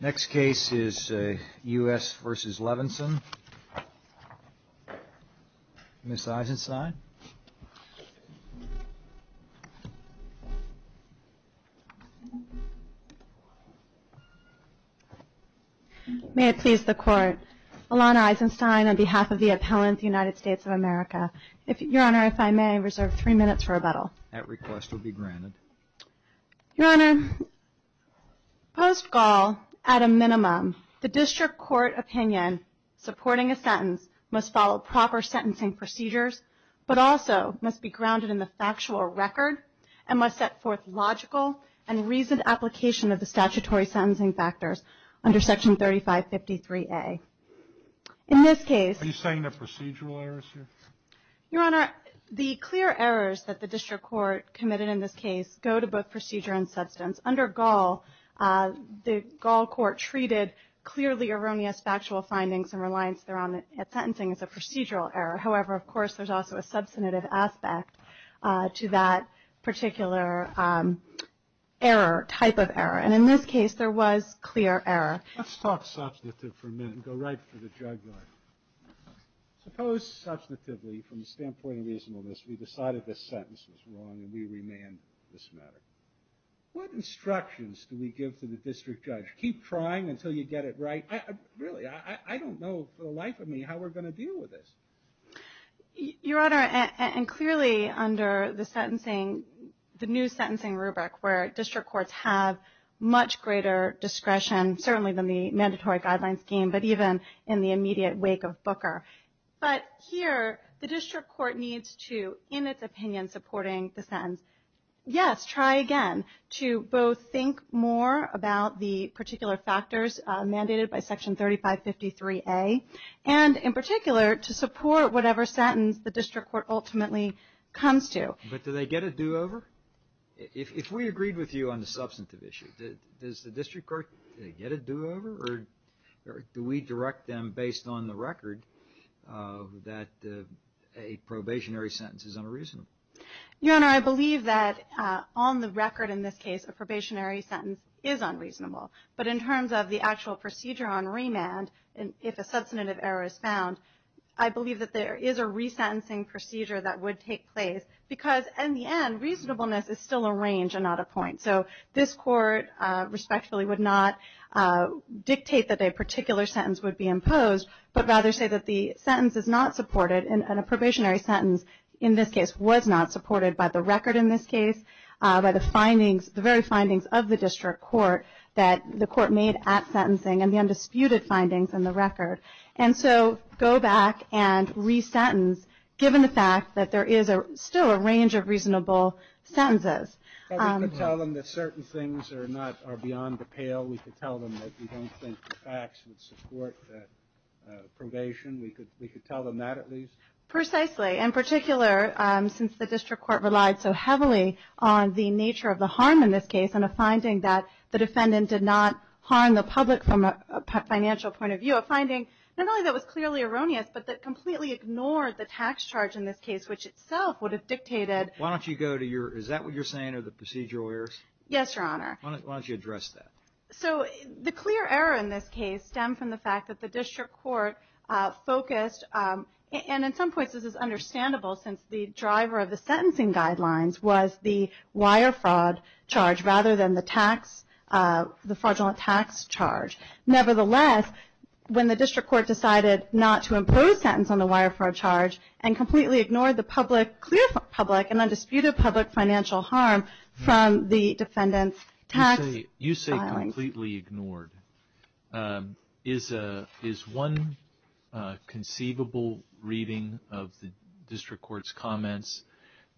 Next case is U.S. v. Levinson. Ms. Eisenstein. May it please the Court. Alana Eisenstein on behalf of the appellant, United States of America. Your Honor, if I may, I reserve three minutes for rebuttal. That request will be granted. Your Honor, post-Gaul, at a minimum, the District Court opinion supporting a sentence must follow proper sentencing procedures, but also must be grounded in the factual record and must set forth logical and reasoned application of the statutory sentencing factors under Section 3553A. In this case... Are you saying there are procedural errors here? Your Honor, the clear errors that the District Court committed in this case go to both procedure and substance. Under Gaul, the Gaul Court treated clearly erroneous factual findings and reliance thereon at sentencing as a procedural error. However, of course, there's also a substantive aspect to that particular error, type of error. And in this case, there was clear error. Let's talk substantive for a minute and go right for the jugular. Suppose, substantively, from the standpoint of reasonableness, we decided this sentence was wrong and we remand this matter. What instructions do we give to the district judge? Keep trying until you get it right? Really, I don't know for the life of me how we're going to deal with this. Your Honor, and clearly under the sentencing, the new sentencing rubric where district courts have much greater discretion, certainly than the mandatory guideline scheme, but even in the immediate wake of Booker. But here, the district court needs to, in its opinion, supporting the sentence. Yes, try again to both think more about the particular factors mandated by Section 3553A, and in particular, to support whatever sentence the district court ultimately comes to. But do they get a do-over? If we agreed with you on the substantive issue, does the district court get a do-over, or do we direct them based on the record that a probationary sentence is unreasonable? Your Honor, I believe that on the record in this case, a probationary sentence is unreasonable. But in terms of the actual procedure on remand, if a substantive error is found, I believe that there is a resentencing procedure that would take place. Because in the end, reasonableness is still a range and not a point. So this court respectfully would not dictate that a particular sentence would be imposed, but rather say that the sentence is not supported, and a probationary sentence in this case was not supported by the record in this case, by the very findings of the district court that the court made at sentencing and the undisputed findings in the record. And so go back and resentence, given the fact that there is still a range of reasonable sentences. But we could tell them that certain things are beyond the pale. We could tell them that we don't think the facts would support that probation. We could tell them that at least. Precisely. In particular, since the district court relied so heavily on the nature of the harm in this case and a finding that the defendant did not harm the public from a financial point of view, a finding not only that was clearly erroneous, but that completely ignored the tax charge in this case, which itself would have dictated. Why don't you go to your, is that what you're saying are the procedural errors? Yes, Your Honor. Why don't you address that? So the clear error in this case stemmed from the fact that the district court focused, and in some places it's understandable since the driver of the sentencing guidelines was the wire fraud charge rather than the tax, the fraudulent tax charge. Nevertheless, when the district court decided not to impose sentence on the wire fraud charge and completely ignored the clear public and undisputed public financial harm from the defendant's tax filing. You say completely ignored. Is one conceivable reading of the district court's comments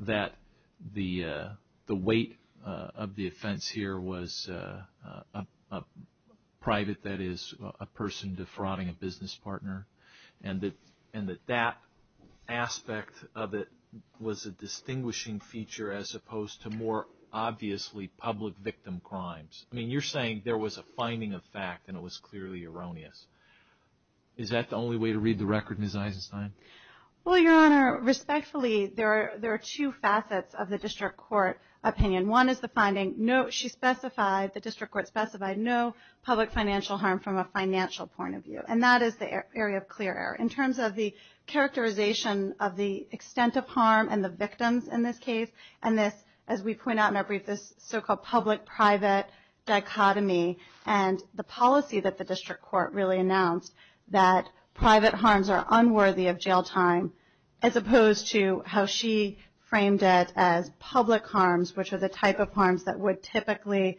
that the weight of the offense here was private, that is a person defrauding a business partner, and that that aspect of it was a distinguishing feature as opposed to more obviously public victim crimes? I mean, you're saying there was a finding of fact and it was clearly erroneous. Is that the only way to read the record, Ms. Eisenstein? Well, Your Honor, respectfully, there are two facets of the district court opinion. One is the finding she specified, the district court specified, no public financial harm from a financial point of view. And that is the area of clear error. In terms of the characterization of the extent of harm and the victims in this case, and this, as we point out in our brief, this so-called public-private dichotomy and the policy that the district court really announced that private harms are unworthy of jail time as opposed to how she framed it as public harms, which are the type of harms that would typically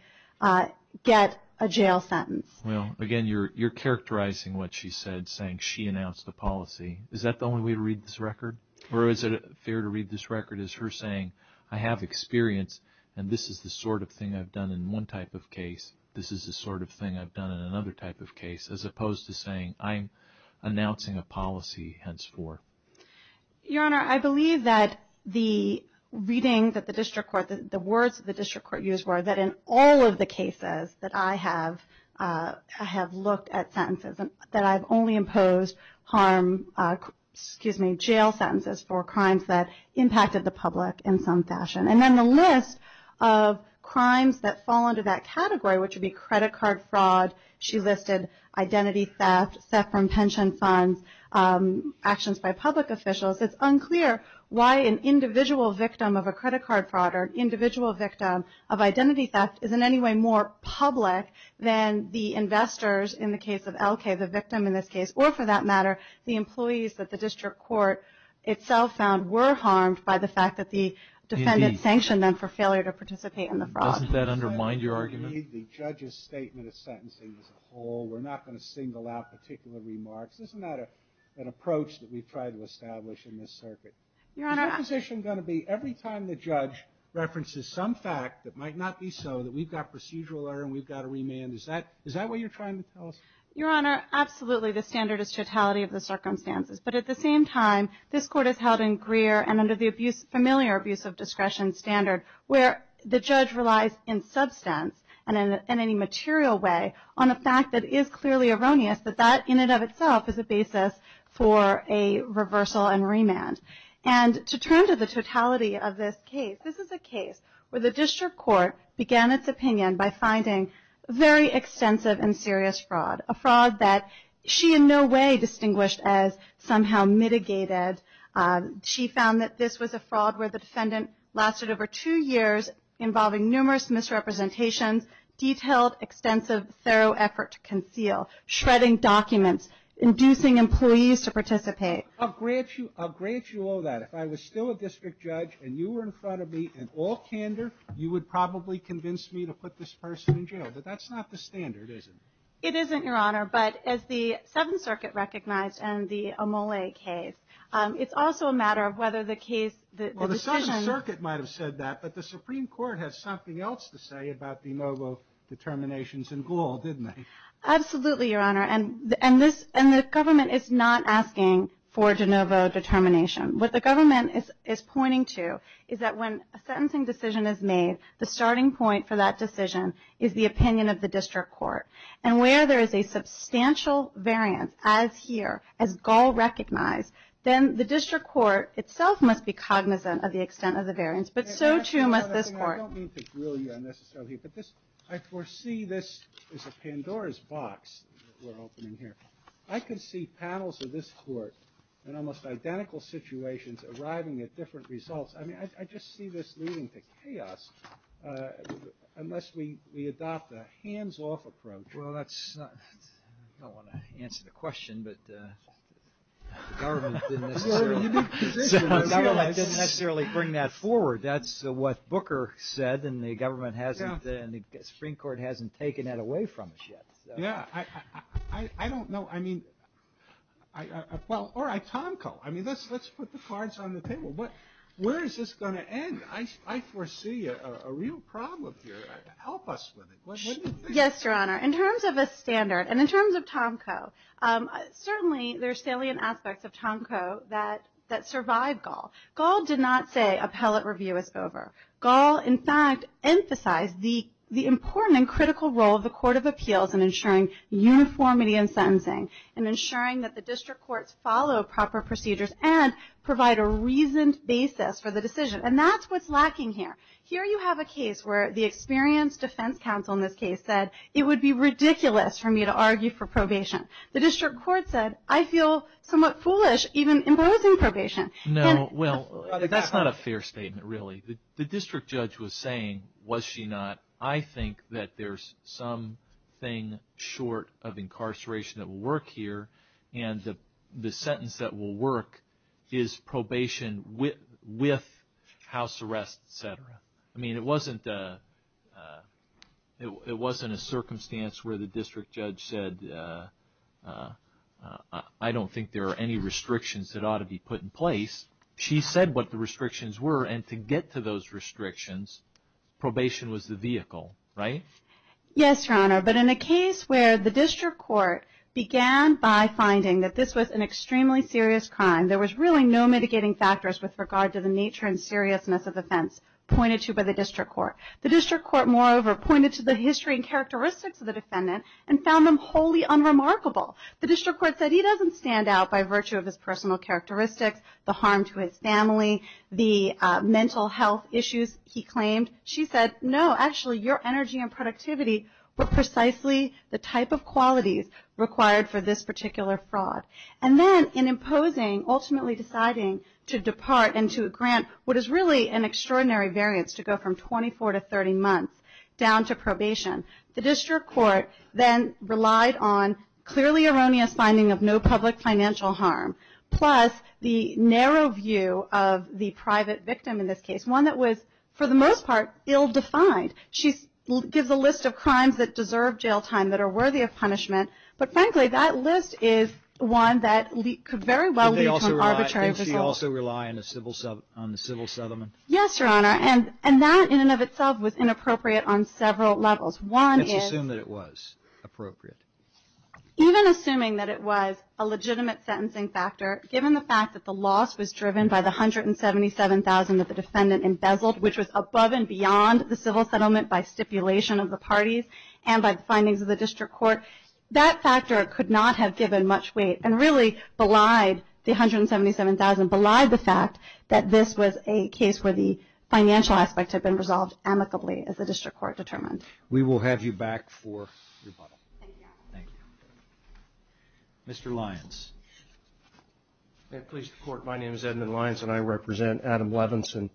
get a jail sentence. Well, again, you're characterizing what she said, saying she announced the policy. Is that the only way to read this record? Or is it fair to read this record as her saying, I have experience and this is the sort of thing I've done in one type of case, this is the sort of thing I've done in another type of case, as opposed to saying I'm announcing a policy henceforth? Your Honor, I believe that the reading that the district court, the words that the district court used were that in all of the cases that I have looked at sentences, that I've only imposed jail sentences for crimes that impacted the public in some fashion. And then the list of crimes that fall under that category, which would be credit card fraud, she listed identity theft, theft from pension funds, actions by public officials. It's unclear why an individual victim of a credit card fraud or an individual victim of identity theft is in any way more public than the investors in the case of Elkay, the victim in this case, or for that matter, the employees that the district court itself found were harmed by the fact that the defendant sanctioned them for failure to participate in the fraud. Doesn't that undermine your argument? The judge's statement of sentencing as a whole, we're not going to single out particular remarks. Isn't that an approach that we've tried to establish in this circuit? Your Honor. Is your position going to be every time the judge references some fact that might not be so, that we've got procedural error and we've got a remand? Is that what you're trying to tell us? Your Honor, absolutely. The standard is totality of the circumstances. But at the same time, this court is held in Greer and under the familiar abuse of discretion standard where the judge relies in substance and in any material way on a fact that is clearly erroneous, that that in and of itself is a basis for a reversal and remand. And to turn to the totality of this case, this is a case where the district court began its opinion by finding very extensive and serious fraud, a fraud that she in no way distinguished as somehow mitigated. She found that this was a fraud where the defendant lasted over two years involving numerous misrepresentations, detailed, extensive, thorough effort to conceal, shredding documents, inducing employees to participate. I'll grant you all that. If I was still a district judge and you were in front of me in all candor, you would probably convince me to put this person in jail. But that's not the standard, is it? It isn't, Your Honor. But as the Seventh Circuit recognized in the Amole case, it's also a matter of whether the case, the decision… Well, the Seventh Circuit might have said that, but the Supreme Court has something else to say about the MOBO determinations in Gaul, didn't they? Absolutely, Your Honor. And the government is not asking for de novo determination. What the government is pointing to is that when a sentencing decision is made, the starting point for that decision is the opinion of the district court. And where there is a substantial variance, as here, as Gaul recognized, then the district court itself must be cognizant of the extent of the variance, but so too must this court. I don't mean to grill you unnecessarily, but I foresee this is a Pandora's box that we're opening here. I can see panels of this court in almost identical situations arriving at different results. I mean, I just see this leading to chaos unless we adopt a hands-off approach. Well, I don't want to answer the question, but the government didn't necessarily bring that forward. That's what Booker said, and the government hasn't, and the Supreme Court hasn't taken that away from us yet. Yeah, I don't know. I mean, well, all right, Tomko, I mean, let's put the cards on the table. But where is this going to end? I foresee a real problem here. Help us with it. Yes, Your Honor, in terms of a standard and in terms of Tomko, certainly there are salient aspects of Tomko that survive Gaul. Gaul did not say appellate review is over. Gaul, in fact, emphasized the important and critical role of the Court of Appeals in ensuring uniformity in sentencing and ensuring that the district courts follow proper procedures and provide a reasoned basis for the decision, and that's what's lacking here. Here you have a case where the experienced defense counsel in this case said, it would be ridiculous for me to argue for probation. The district court said, I feel somewhat foolish even imposing probation. No, well, that's not a fair statement, really. The district judge was saying, was she not, I think that there's something short of incarceration that will work here, and the sentence that will work is probation with house arrest, et cetera. I mean, it wasn't a circumstance where the district judge said, I don't think there are any restrictions that ought to be put in place. She said what the restrictions were, and to get to those restrictions, probation was the vehicle, right? Yes, Your Honor, but in a case where the district court began by finding that this was an extremely serious crime, there was really no mitigating factors with regard to the nature and seriousness of offense pointed to by the district court. The district court, moreover, pointed to the history and characteristics of the defendant and found them wholly unremarkable. The district court said he doesn't stand out by virtue of his personal characteristics, the harm to his family, the mental health issues he claimed. She said, no, actually your energy and productivity were precisely the type of qualities required for this particular fraud. And then in imposing, ultimately deciding to depart and to grant what is really an extraordinary variance to go from 24 to 30 months down to probation, the district court then relied on clearly erroneous finding of no public financial harm, plus the narrow view of the private victim in this case, one that was, for the most part, ill-defined. She gives a list of crimes that deserve jail time, that are worthy of punishment, but frankly that list is one that could very well lead to an arbitrary result. Did she also rely on the civil settlement? Yes, Your Honor, and that in and of itself was inappropriate on several levels. Let's assume that it was appropriate. Even assuming that it was a legitimate sentencing factor, given the fact that the loss was driven by the $177,000 that the defendant embezzled, which was above and beyond the civil settlement by stipulation of the parties and by the findings of the district court, that factor could not have given much weight and really belied the $177,000, belied the fact that this was a case where the financial aspects had been resolved amicably as the district court determined. We will have you back for rebuttal. Thank you. Thank you. Mr. Lyons. May it please the Court, my name is Edmund Lyons and I represent Adam Levinson.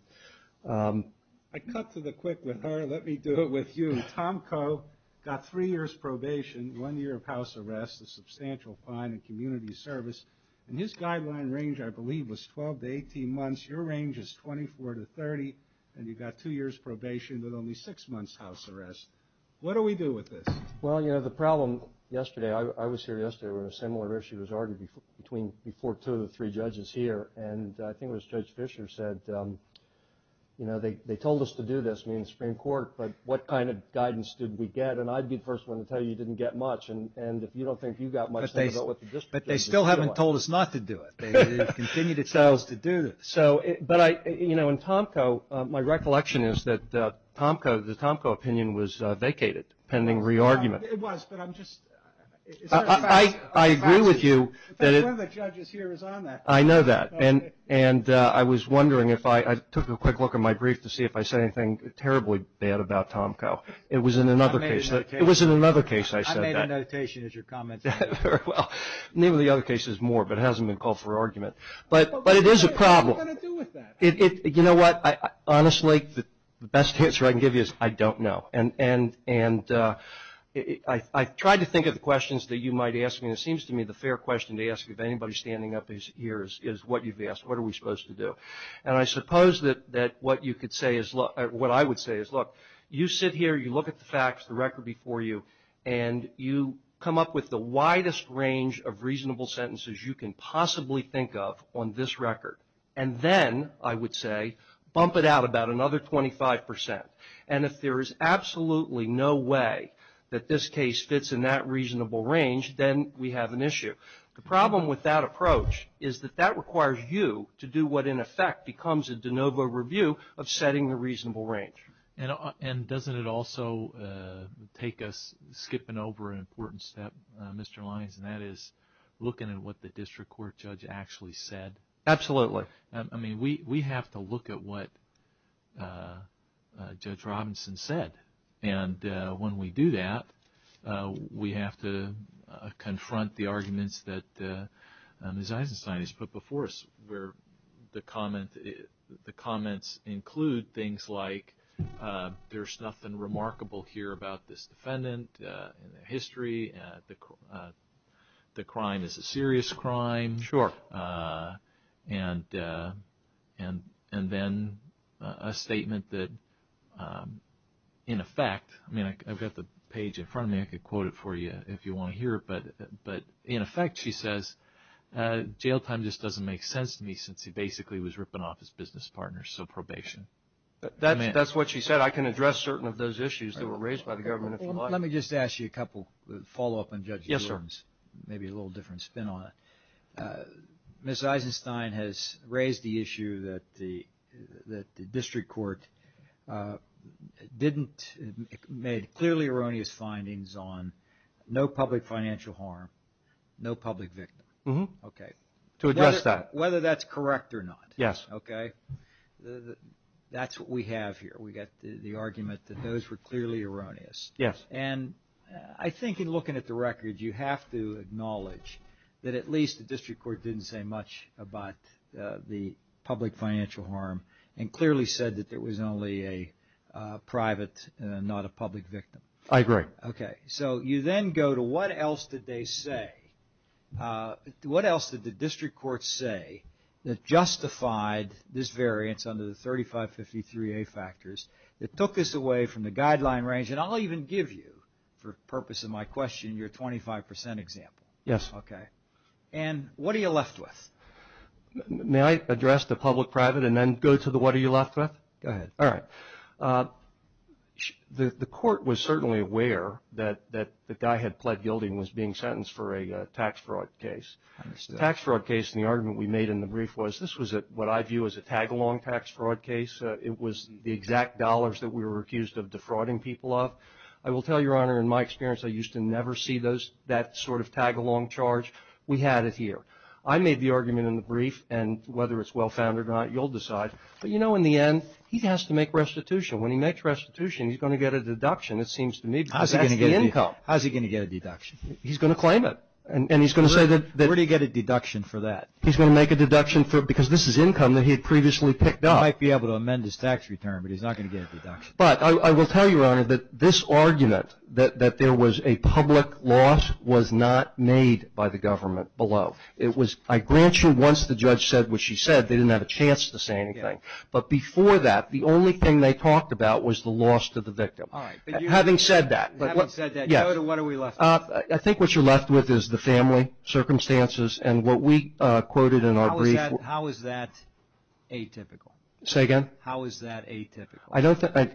I cut to the quick with her. Let me do it with you. Tom Coe got three years probation, one year of house arrest, a substantial fine in community service, and his guideline range, I believe, was 12 to 18 months. Your range is 24 to 30, and you got two years probation but only six months house arrest. What do we do with this? Well, you know, the problem yesterday, I was here yesterday where a similar issue was argued before two of the three judges here, and I think it was Judge Fisher said, you know, they told us to do this, me and the Supreme Court, but what kind of guidance did we get? And I'd be the first one to tell you you didn't get much, and if you don't think you got much, think about what the district court is doing. But they still haven't told us not to do it. It continued itself to do this. But, you know, in Tom Coe, my recollection is that Tom Coe, the Tom Coe opinion was vacated pending re-argument. It was, but I'm just. I agree with you. In fact, one of the judges here is on that. I know that. And I was wondering if I took a quick look at my brief to see if I said anything terribly bad about Tom Coe. It was in another case. It was in another case I said that. I made a notation as your comments. Very well. Maybe the other case is more, but it hasn't been called for argument. But it is a problem. What are we going to do with that? You know what? Honestly, the best answer I can give you is I don't know. And I tried to think of the questions that you might ask me. And it seems to me the fair question to ask of anybody standing up here is what you've asked. What are we supposed to do? And I suppose that what you could say is, what I would say is, look, you sit here. You look at the facts, the record before you. And you come up with the widest range of reasonable sentences you can possibly think of on this record. And then I would say bump it out about another 25%. And if there is absolutely no way that this case fits in that reasonable range, then we have an issue. The problem with that approach is that that requires you to do what, in effect, becomes a de novo review of setting the reasonable range. And doesn't it also take us skipping over an important step, Mr. Lyons, and that is looking at what the district court judge actually said? Absolutely. I mean, we have to look at what Judge Robinson said. And when we do that, we have to confront the arguments that Ms. Eisenstein has put before us, where the comments include things like, there's nothing remarkable here about this defendant, the history, the crime is a serious crime. Sure. And then a statement that, in effect, I mean, I've got the page in front of me. I could quote it for you if you want to hear it. But, in effect, she says, jail time just doesn't make sense to me, since he basically was ripping off his business partner, so probation. That's what she said. I can address certain of those issues that were raised by the government, if you like. Let me just ask you a couple, a follow-up on Judge Eulens. Yes, sir. Maybe a little different spin on it. Ms. Eisenstein has raised the issue that the district court didn't make clearly erroneous findings on no public financial harm, no public victim. Mm-hmm. Okay. To address that. Whether that's correct or not. Yes. Okay. That's what we have here. We've got the argument that those were clearly erroneous. Yes. And I think, in looking at the records, you have to acknowledge that, at least, the district court didn't say much about the public financial harm and clearly said that there was only a private and not a public victim. I agree. Okay. So you then go to what else did they say? What else did the district court say that justified this variance under the 3553A factors that took this away from the guideline range? And I'll even give you, for the purpose of my question, your 25% example. Yes. Okay. And what are you left with? May I address the public-private and then go to the what are you left with? Go ahead. All right. The court was certainly aware that the guy had pled guilty and was being sentenced for a tax fraud case. I understand. The tax fraud case, and the argument we made in the brief, was this was what I view as a tag-along tax fraud case. It was the exact dollars that we were accused of defrauding people of. I will tell you, Your Honor, in my experience, I used to never see that sort of tag-along charge. We had it here. I made the argument in the brief, and whether it's well-founded or not, you'll decide. But, you know, in the end, he has to make restitution. When he makes restitution, he's going to get a deduction, it seems to me, because that's the income. How's he going to get a deduction? He's going to claim it. And he's going to say that. Where do you get a deduction for that? He's going to make a deduction because this is income that he had previously picked up. He might be able to amend his tax return, but he's not going to get a deduction. But I will tell you, Your Honor, that this argument, that there was a public loss, was not made by the government below. I grant you once the judge said what she said, they didn't have a chance to say anything. But before that, the only thing they talked about was the loss to the victim. All right. Having said that. Having said that, Joda, what are we left with? I think what you're left with is the family, circumstances, and what we quoted in our brief. How is that atypical? Say again? How is that atypical?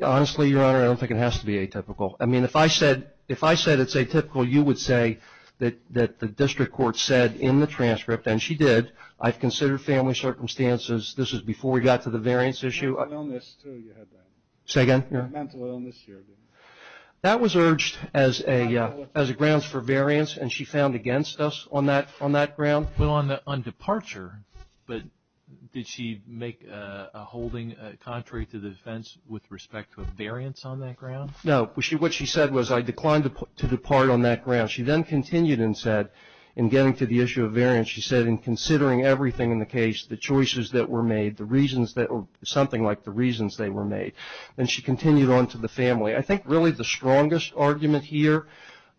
Honestly, Your Honor, I don't think it has to be atypical. I mean, if I said it's atypical, you would say that the district court said in the transcript, and she did, I've considered family circumstances. This is before we got to the variance issue. Mental illness, too, you had that. Say again? Mental illness. That was urged as a grounds for variance, and she found against us on that ground. Well, on departure, but did she make a holding contrary to the defense with respect to a variance on that ground? No. What she said was, I declined to depart on that ground. She then continued and said, in getting to the issue of variance, she said, in considering everything in the case, the choices that were made, the reasons that were, something like the reasons they were made. And she continued on to the family. I think really the strongest argument here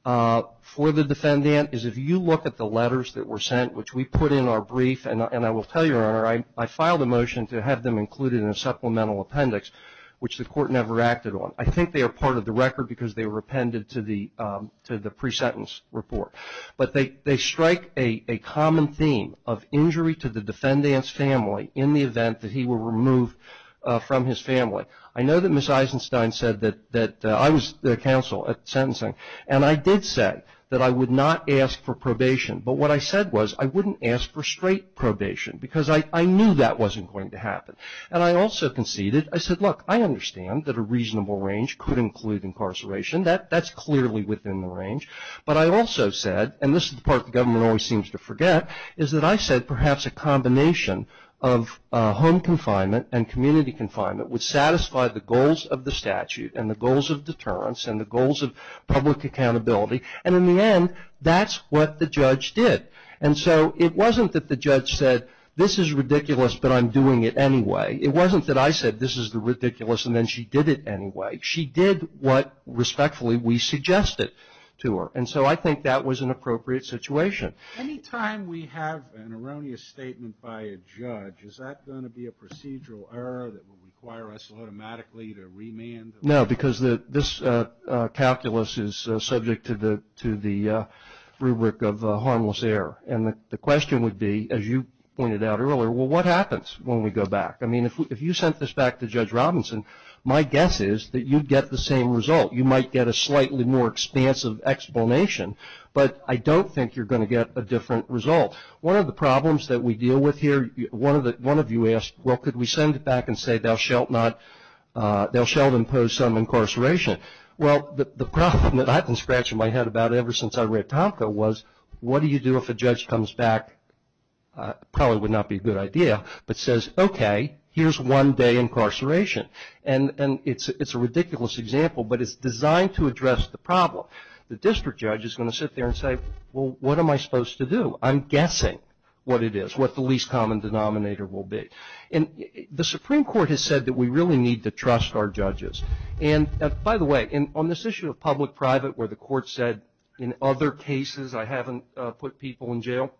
for the defendant is if you look at the letters that were sent, which we put in our brief, and I will tell you, Your Honor, I filed a motion to have them included in a supplemental appendix, which the court never acted on. I think they are part of the record because they were appended to the pre-sentence report. But they strike a common theme of injury to the defendant's family in the event that he were removed from his family. I know that Ms. Eisenstein said that I was counsel at sentencing. And I did say that I would not ask for probation. But what I said was I wouldn't ask for straight probation because I knew that wasn't going to happen. And I also conceded, I said, look, I understand that a reasonable range could include incarceration. That's clearly within the range. But I also said, and this is the part the government always seems to forget, is that I said perhaps a combination of home confinement and community confinement would satisfy the goals of the statute and the goals of deterrence and the goals of public accountability. And in the end, that's what the judge did. And so it wasn't that the judge said this is ridiculous but I'm doing it anyway. It wasn't that I said this is ridiculous and then she did it anyway. She did what, respectfully, we suggested to her. And so I think that was an appropriate situation. Any time we have an erroneous statement by a judge, is that going to be a procedural error that will require us automatically to remand? No, because this calculus is subject to the rubric of harmless error. And the question would be, as you pointed out earlier, well, what happens when we go back? I mean, if you sent this back to Judge Robinson, my guess is that you'd get the same result. You might get a slightly more expansive explanation. But I don't think you're going to get a different result. One of the problems that we deal with here, one of you asked, well, could we send it back and say thou shalt impose some incarceration? Well, the problem that I've been scratching my head about ever since I read Tomko was, what do you do if a judge comes back, probably would not be a good idea, but says, okay, here's one day incarceration. And it's a ridiculous example, but it's designed to address the problem. The district judge is going to sit there and say, well, what am I supposed to do? I'm guessing what it is, what the least common denominator will be. And the Supreme Court has said that we really need to trust our judges. And, by the way, on this issue of public-private where the court said, in other cases, I haven't put people in jail,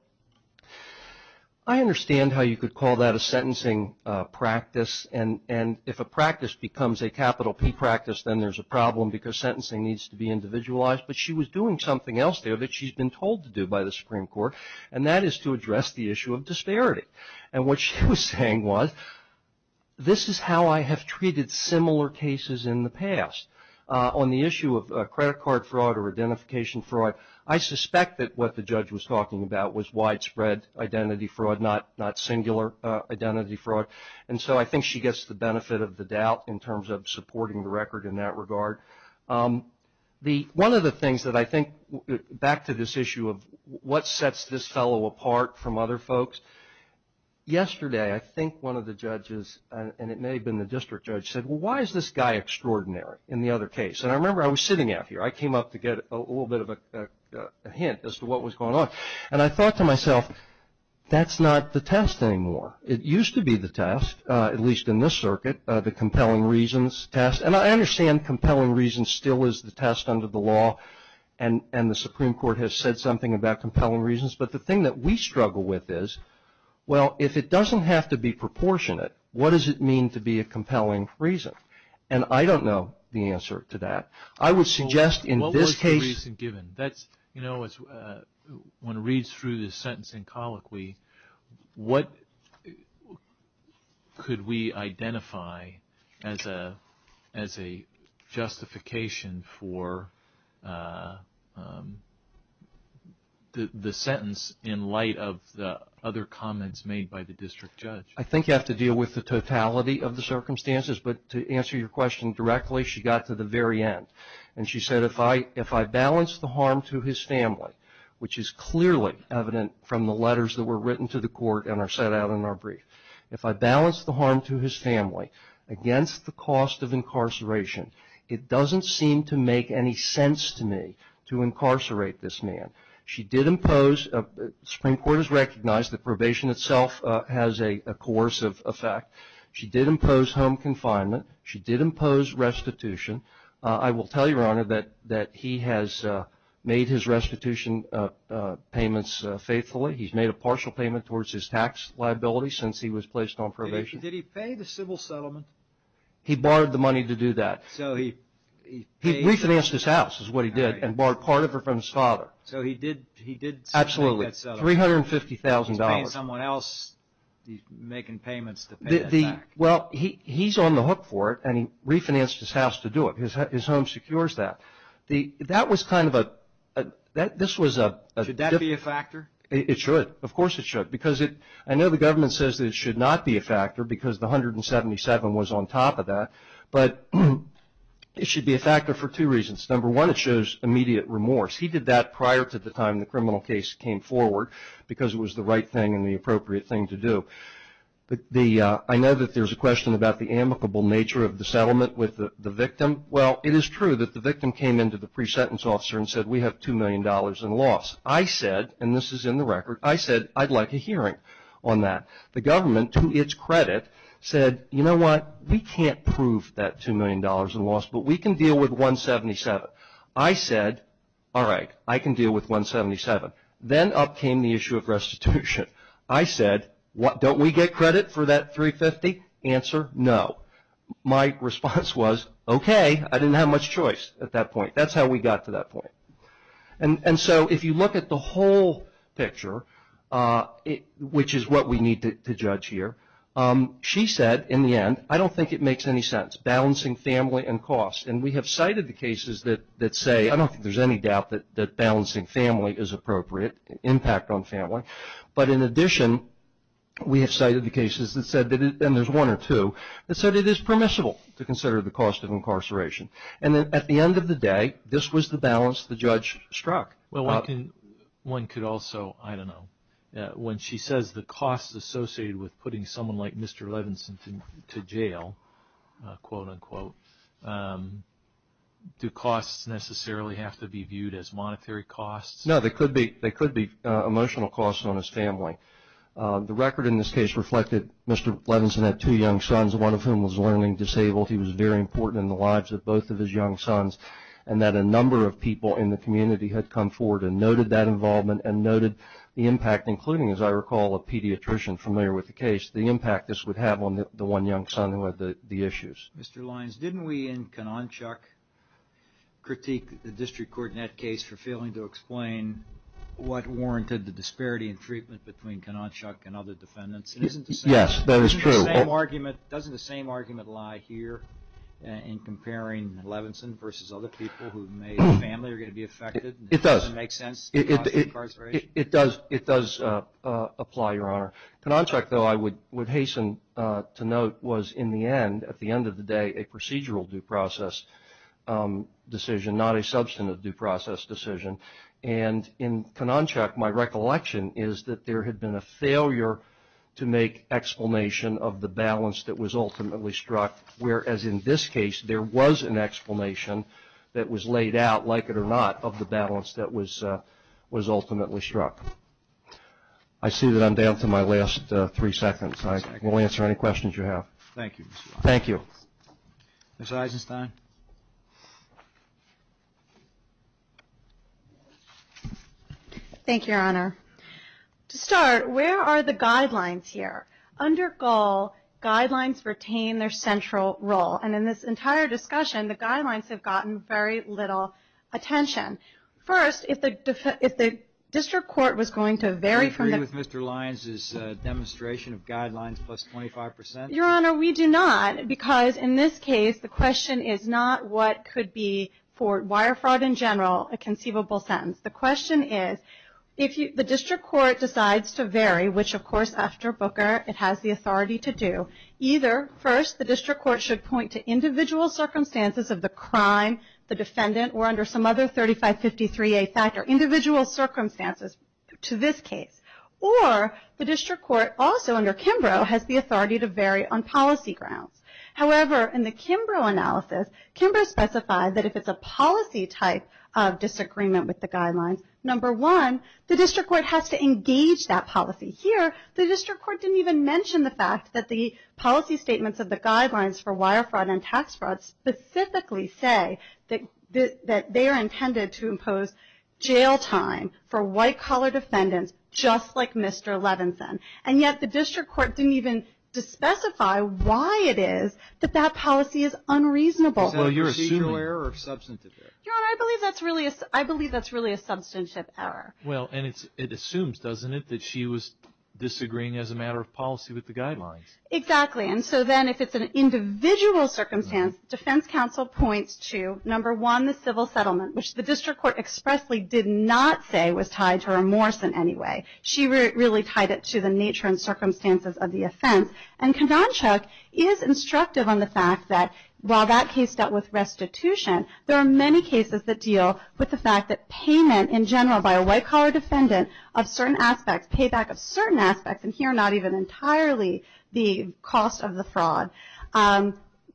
I understand how you could call that a sentencing practice. And if a practice becomes a capital P practice, then there's a problem because sentencing needs to be individualized. But she was doing something else there that she's been told to do by the Supreme Court, and that is to address the issue of disparity. And what she was saying was, this is how I have treated similar cases in the past. On the issue of credit card fraud or identification fraud, I suspect that what the judge was talking about was widespread identity fraud, not singular identity fraud. And so I think she gets the benefit of the doubt in terms of supporting the record in that regard. One of the things that I think, back to this issue of what sets this fellow apart from other folks, yesterday I think one of the judges, and it may have been the district judge, said, well, why is this guy extraordinary in the other case? And I remember I was sitting out here. I came up to get a little bit of a hint as to what was going on. And I thought to myself, that's not the test anymore. It used to be the test, at least in this circuit, the compelling reasons test. And I understand compelling reasons still is the test under the law, and the Supreme Court has said something about compelling reasons. But the thing that we struggle with is, well, if it doesn't have to be proportionate, what does it mean to be a compelling reason? And I don't know the answer to that. I would suggest in this case. When it reads through the sentence in colloquy, what could we identify as a justification for the sentence in light of the other comments made by the district judge? I think you have to deal with the totality of the circumstances. But to answer your question directly, she got to the very end. And she said, if I balance the harm to his family, which is clearly evident from the letters that were written to the court and are set out in our brief, if I balance the harm to his family against the cost of incarceration, it doesn't seem to make any sense to me to incarcerate this man. She did impose. The Supreme Court has recognized that probation itself has a coercive effect. She did impose home confinement. She did impose restitution. I will tell you, Your Honor, that he has made his restitution payments faithfully. He's made a partial payment towards his tax liability since he was placed on probation. Did he pay the civil settlement? He borrowed the money to do that. He refinanced his house, is what he did, and borrowed part of it from his father. So he did pay that settlement. Absolutely. $350,000. He's paying someone else. He's making payments to pay that back. Well, he's on the hook for it, and he refinanced his house to do it. His home secures that. That was kind of a – this was a – Should that be a factor? It should. Of course it should. Because I know the government says that it should not be a factor because the $177,000 was on top of that, but it should be a factor for two reasons. Number one, it shows immediate remorse. He did that prior to the time the criminal case came forward because it was the right thing and the appropriate thing to do. I know that there's a question about the amicable nature of the settlement with the victim. Well, it is true that the victim came in to the pre-sentence officer and said, we have $2 million in loss. I said, and this is in the record, I said, I'd like a hearing on that. The government, to its credit, said, you know what, we can't prove that $2 million in loss, but we can deal with $177,000. I said, all right, I can deal with $177,000. Then up came the issue of restitution. I said, don't we get credit for that $350,000? Answer, no. My response was, okay, I didn't have much choice at that point. That's how we got to that point. And so if you look at the whole picture, which is what we need to judge here, she said in the end, I don't think it makes any sense, balancing family and cost. And we have cited the cases that say, I don't think there's any doubt that balancing family is appropriate, impact on family. But in addition, we have cited the cases that said, and there's one or two, that said it is permissible to consider the cost of incarceration. And at the end of the day, this was the balance the judge struck. Well, one could also, I don't know, when she says the costs associated with putting someone like Mr. Levinson to jail, quote, unquote, do costs necessarily have to be viewed as monetary costs? No, they could be emotional costs on his family. The record in this case reflected Mr. Levinson had two young sons, one of whom was learning disabled. He was very important in the lives of both of his young sons, and that a number of people in the community had come forward and noted that involvement and noted the impact, including, as I recall, a pediatrician familiar with the case, the impact this would have on the one young son who had the issues. Mr. Lyons, didn't we in Kononchuk critique the district court in that case for failing to explain what warranted the disparity in treatment between Kononchuk and other defendants? Yes, that is true. Doesn't the same argument lie here in comparing Levinson versus other people who may have family who are going to be affected? It does. Does it make sense? It does apply, Your Honor. Kononchuk, though, I would hasten to note was, in the end, at the end of the day, a procedural due process decision, not a substantive due process decision. And in Kononchuk, my recollection is that there had been a failure to make explanation of the balance that was ultimately struck, whereas in this case there was an explanation that was laid out, like it or not, of the balance that was ultimately struck. I see that I'm down to my last three seconds. I will answer any questions you have. Thank you, Mr. Lyons. Thank you. Ms. Eisenstein. Thank you, Your Honor. To start, where are the guidelines here? Under Gull, guidelines retain their central role. And in this entire discussion, the guidelines have gotten very little attention. First, if the district court was going to vary from the ---- Do you agree with Mr. Lyons' demonstration of guidelines plus 25 percent? Your Honor, we do not, because in this case the question is not what could be for wire fraud in general a conceivable sentence. The question is, if the district court decides to vary, which, of course, after Booker it has the authority to do, either first the district court should point to individual circumstances of the crime, the defendant, or under some other 3553A factor, individual circumstances to this case, or the district court also under Kimbrough has the authority to vary on policy grounds. However, in the Kimbrough analysis, Kimbrough specified that if it's a policy type of disagreement with the guidelines, number one, the district court has to engage that policy. Here, the district court didn't even mention the fact that the policy statements of the guidelines for wire fraud and tax fraud specifically say that they are intended to impose jail time for white-collar defendants just like Mr. Levinson, and yet the district court didn't even specify why it is that that policy is unreasonable. So you're assuming ---- Procedural error or substantive error? Your Honor, I believe that's really a substantive error. Well, and it assumes, doesn't it, that she was disagreeing as a matter of policy with the guidelines? Exactly. And so then if it's an individual circumstance, defense counsel points to, number one, the civil settlement, which the district court expressly did not say was tied to remorse in any way. She really tied it to the nature and circumstances of the offense. And Kavonchuk is instructive on the fact that while that case dealt with restitution, there are many cases that deal with the fact that payment in general by a white-collar defendant of certain aspects, payback of certain aspects, and here not even entirely the cost of the fraud,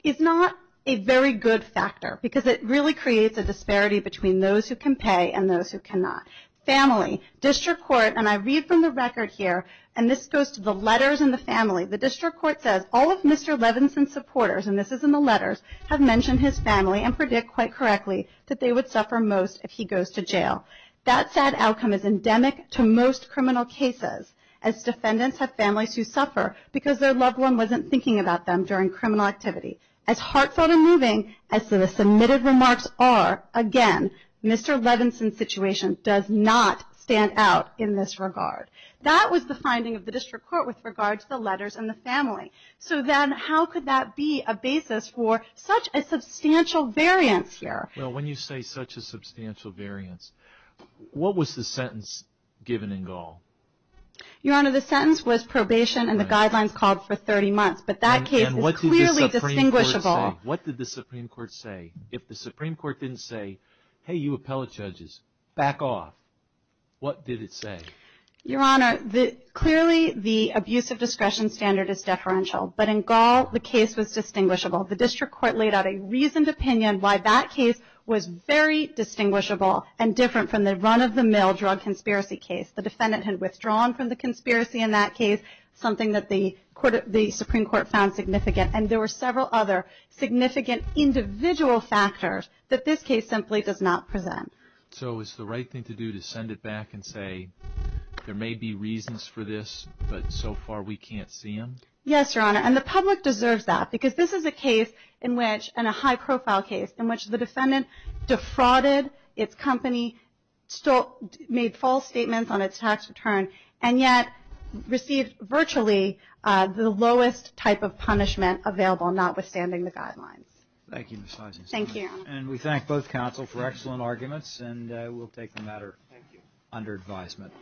is not a very good factor because it really creates a disparity between those who can pay and those who cannot. Family. District court, and I read from the record here, and this goes to the letters in the family. The district court says, All of Mr. Levinson's supporters, and this is in the letters, have mentioned his family and predict quite correctly that they would suffer most if he goes to jail. That sad outcome is endemic to most criminal cases as defendants have families who suffer because their loved one wasn't thinking about them during criminal activity. As heartfelt and moving as the submitted remarks are, again, Mr. Levinson's situation does not stand out in this regard. That was the finding of the district court with regard to the letters in the family. So then how could that be a basis for such a substantial variance here? Well, when you say such a substantial variance, what was the sentence given in Gall? Your Honor, the sentence was probation and the guidelines called for 30 months. But that case is clearly distinguishable. What did the Supreme Court say? If the Supreme Court didn't say, hey, you appellate judges, back off, what did it say? Your Honor, clearly the abuse of discretion standard is deferential. But in Gall, the case was distinguishable. The district court laid out a reasoned opinion why that case was very distinguishable and different from the run-of-the-mill drug conspiracy case. The defendant had withdrawn from the conspiracy in that case, something that the Supreme Court found significant. And there were several other significant individual factors that this case simply does not present. So it's the right thing to do to send it back and say there may be reasons for this, but so far we can't see them? Yes, Your Honor. And the public deserves that, because this is a case in which, and a high-profile case, in which the defendant defrauded its company, made false statements on its tax return, and yet received virtually the lowest type of punishment available, notwithstanding the guidelines. Thank you, Ms. Leisinger. Thank you. And we thank both counsel for excellent arguments, and we'll take the matter under advisement.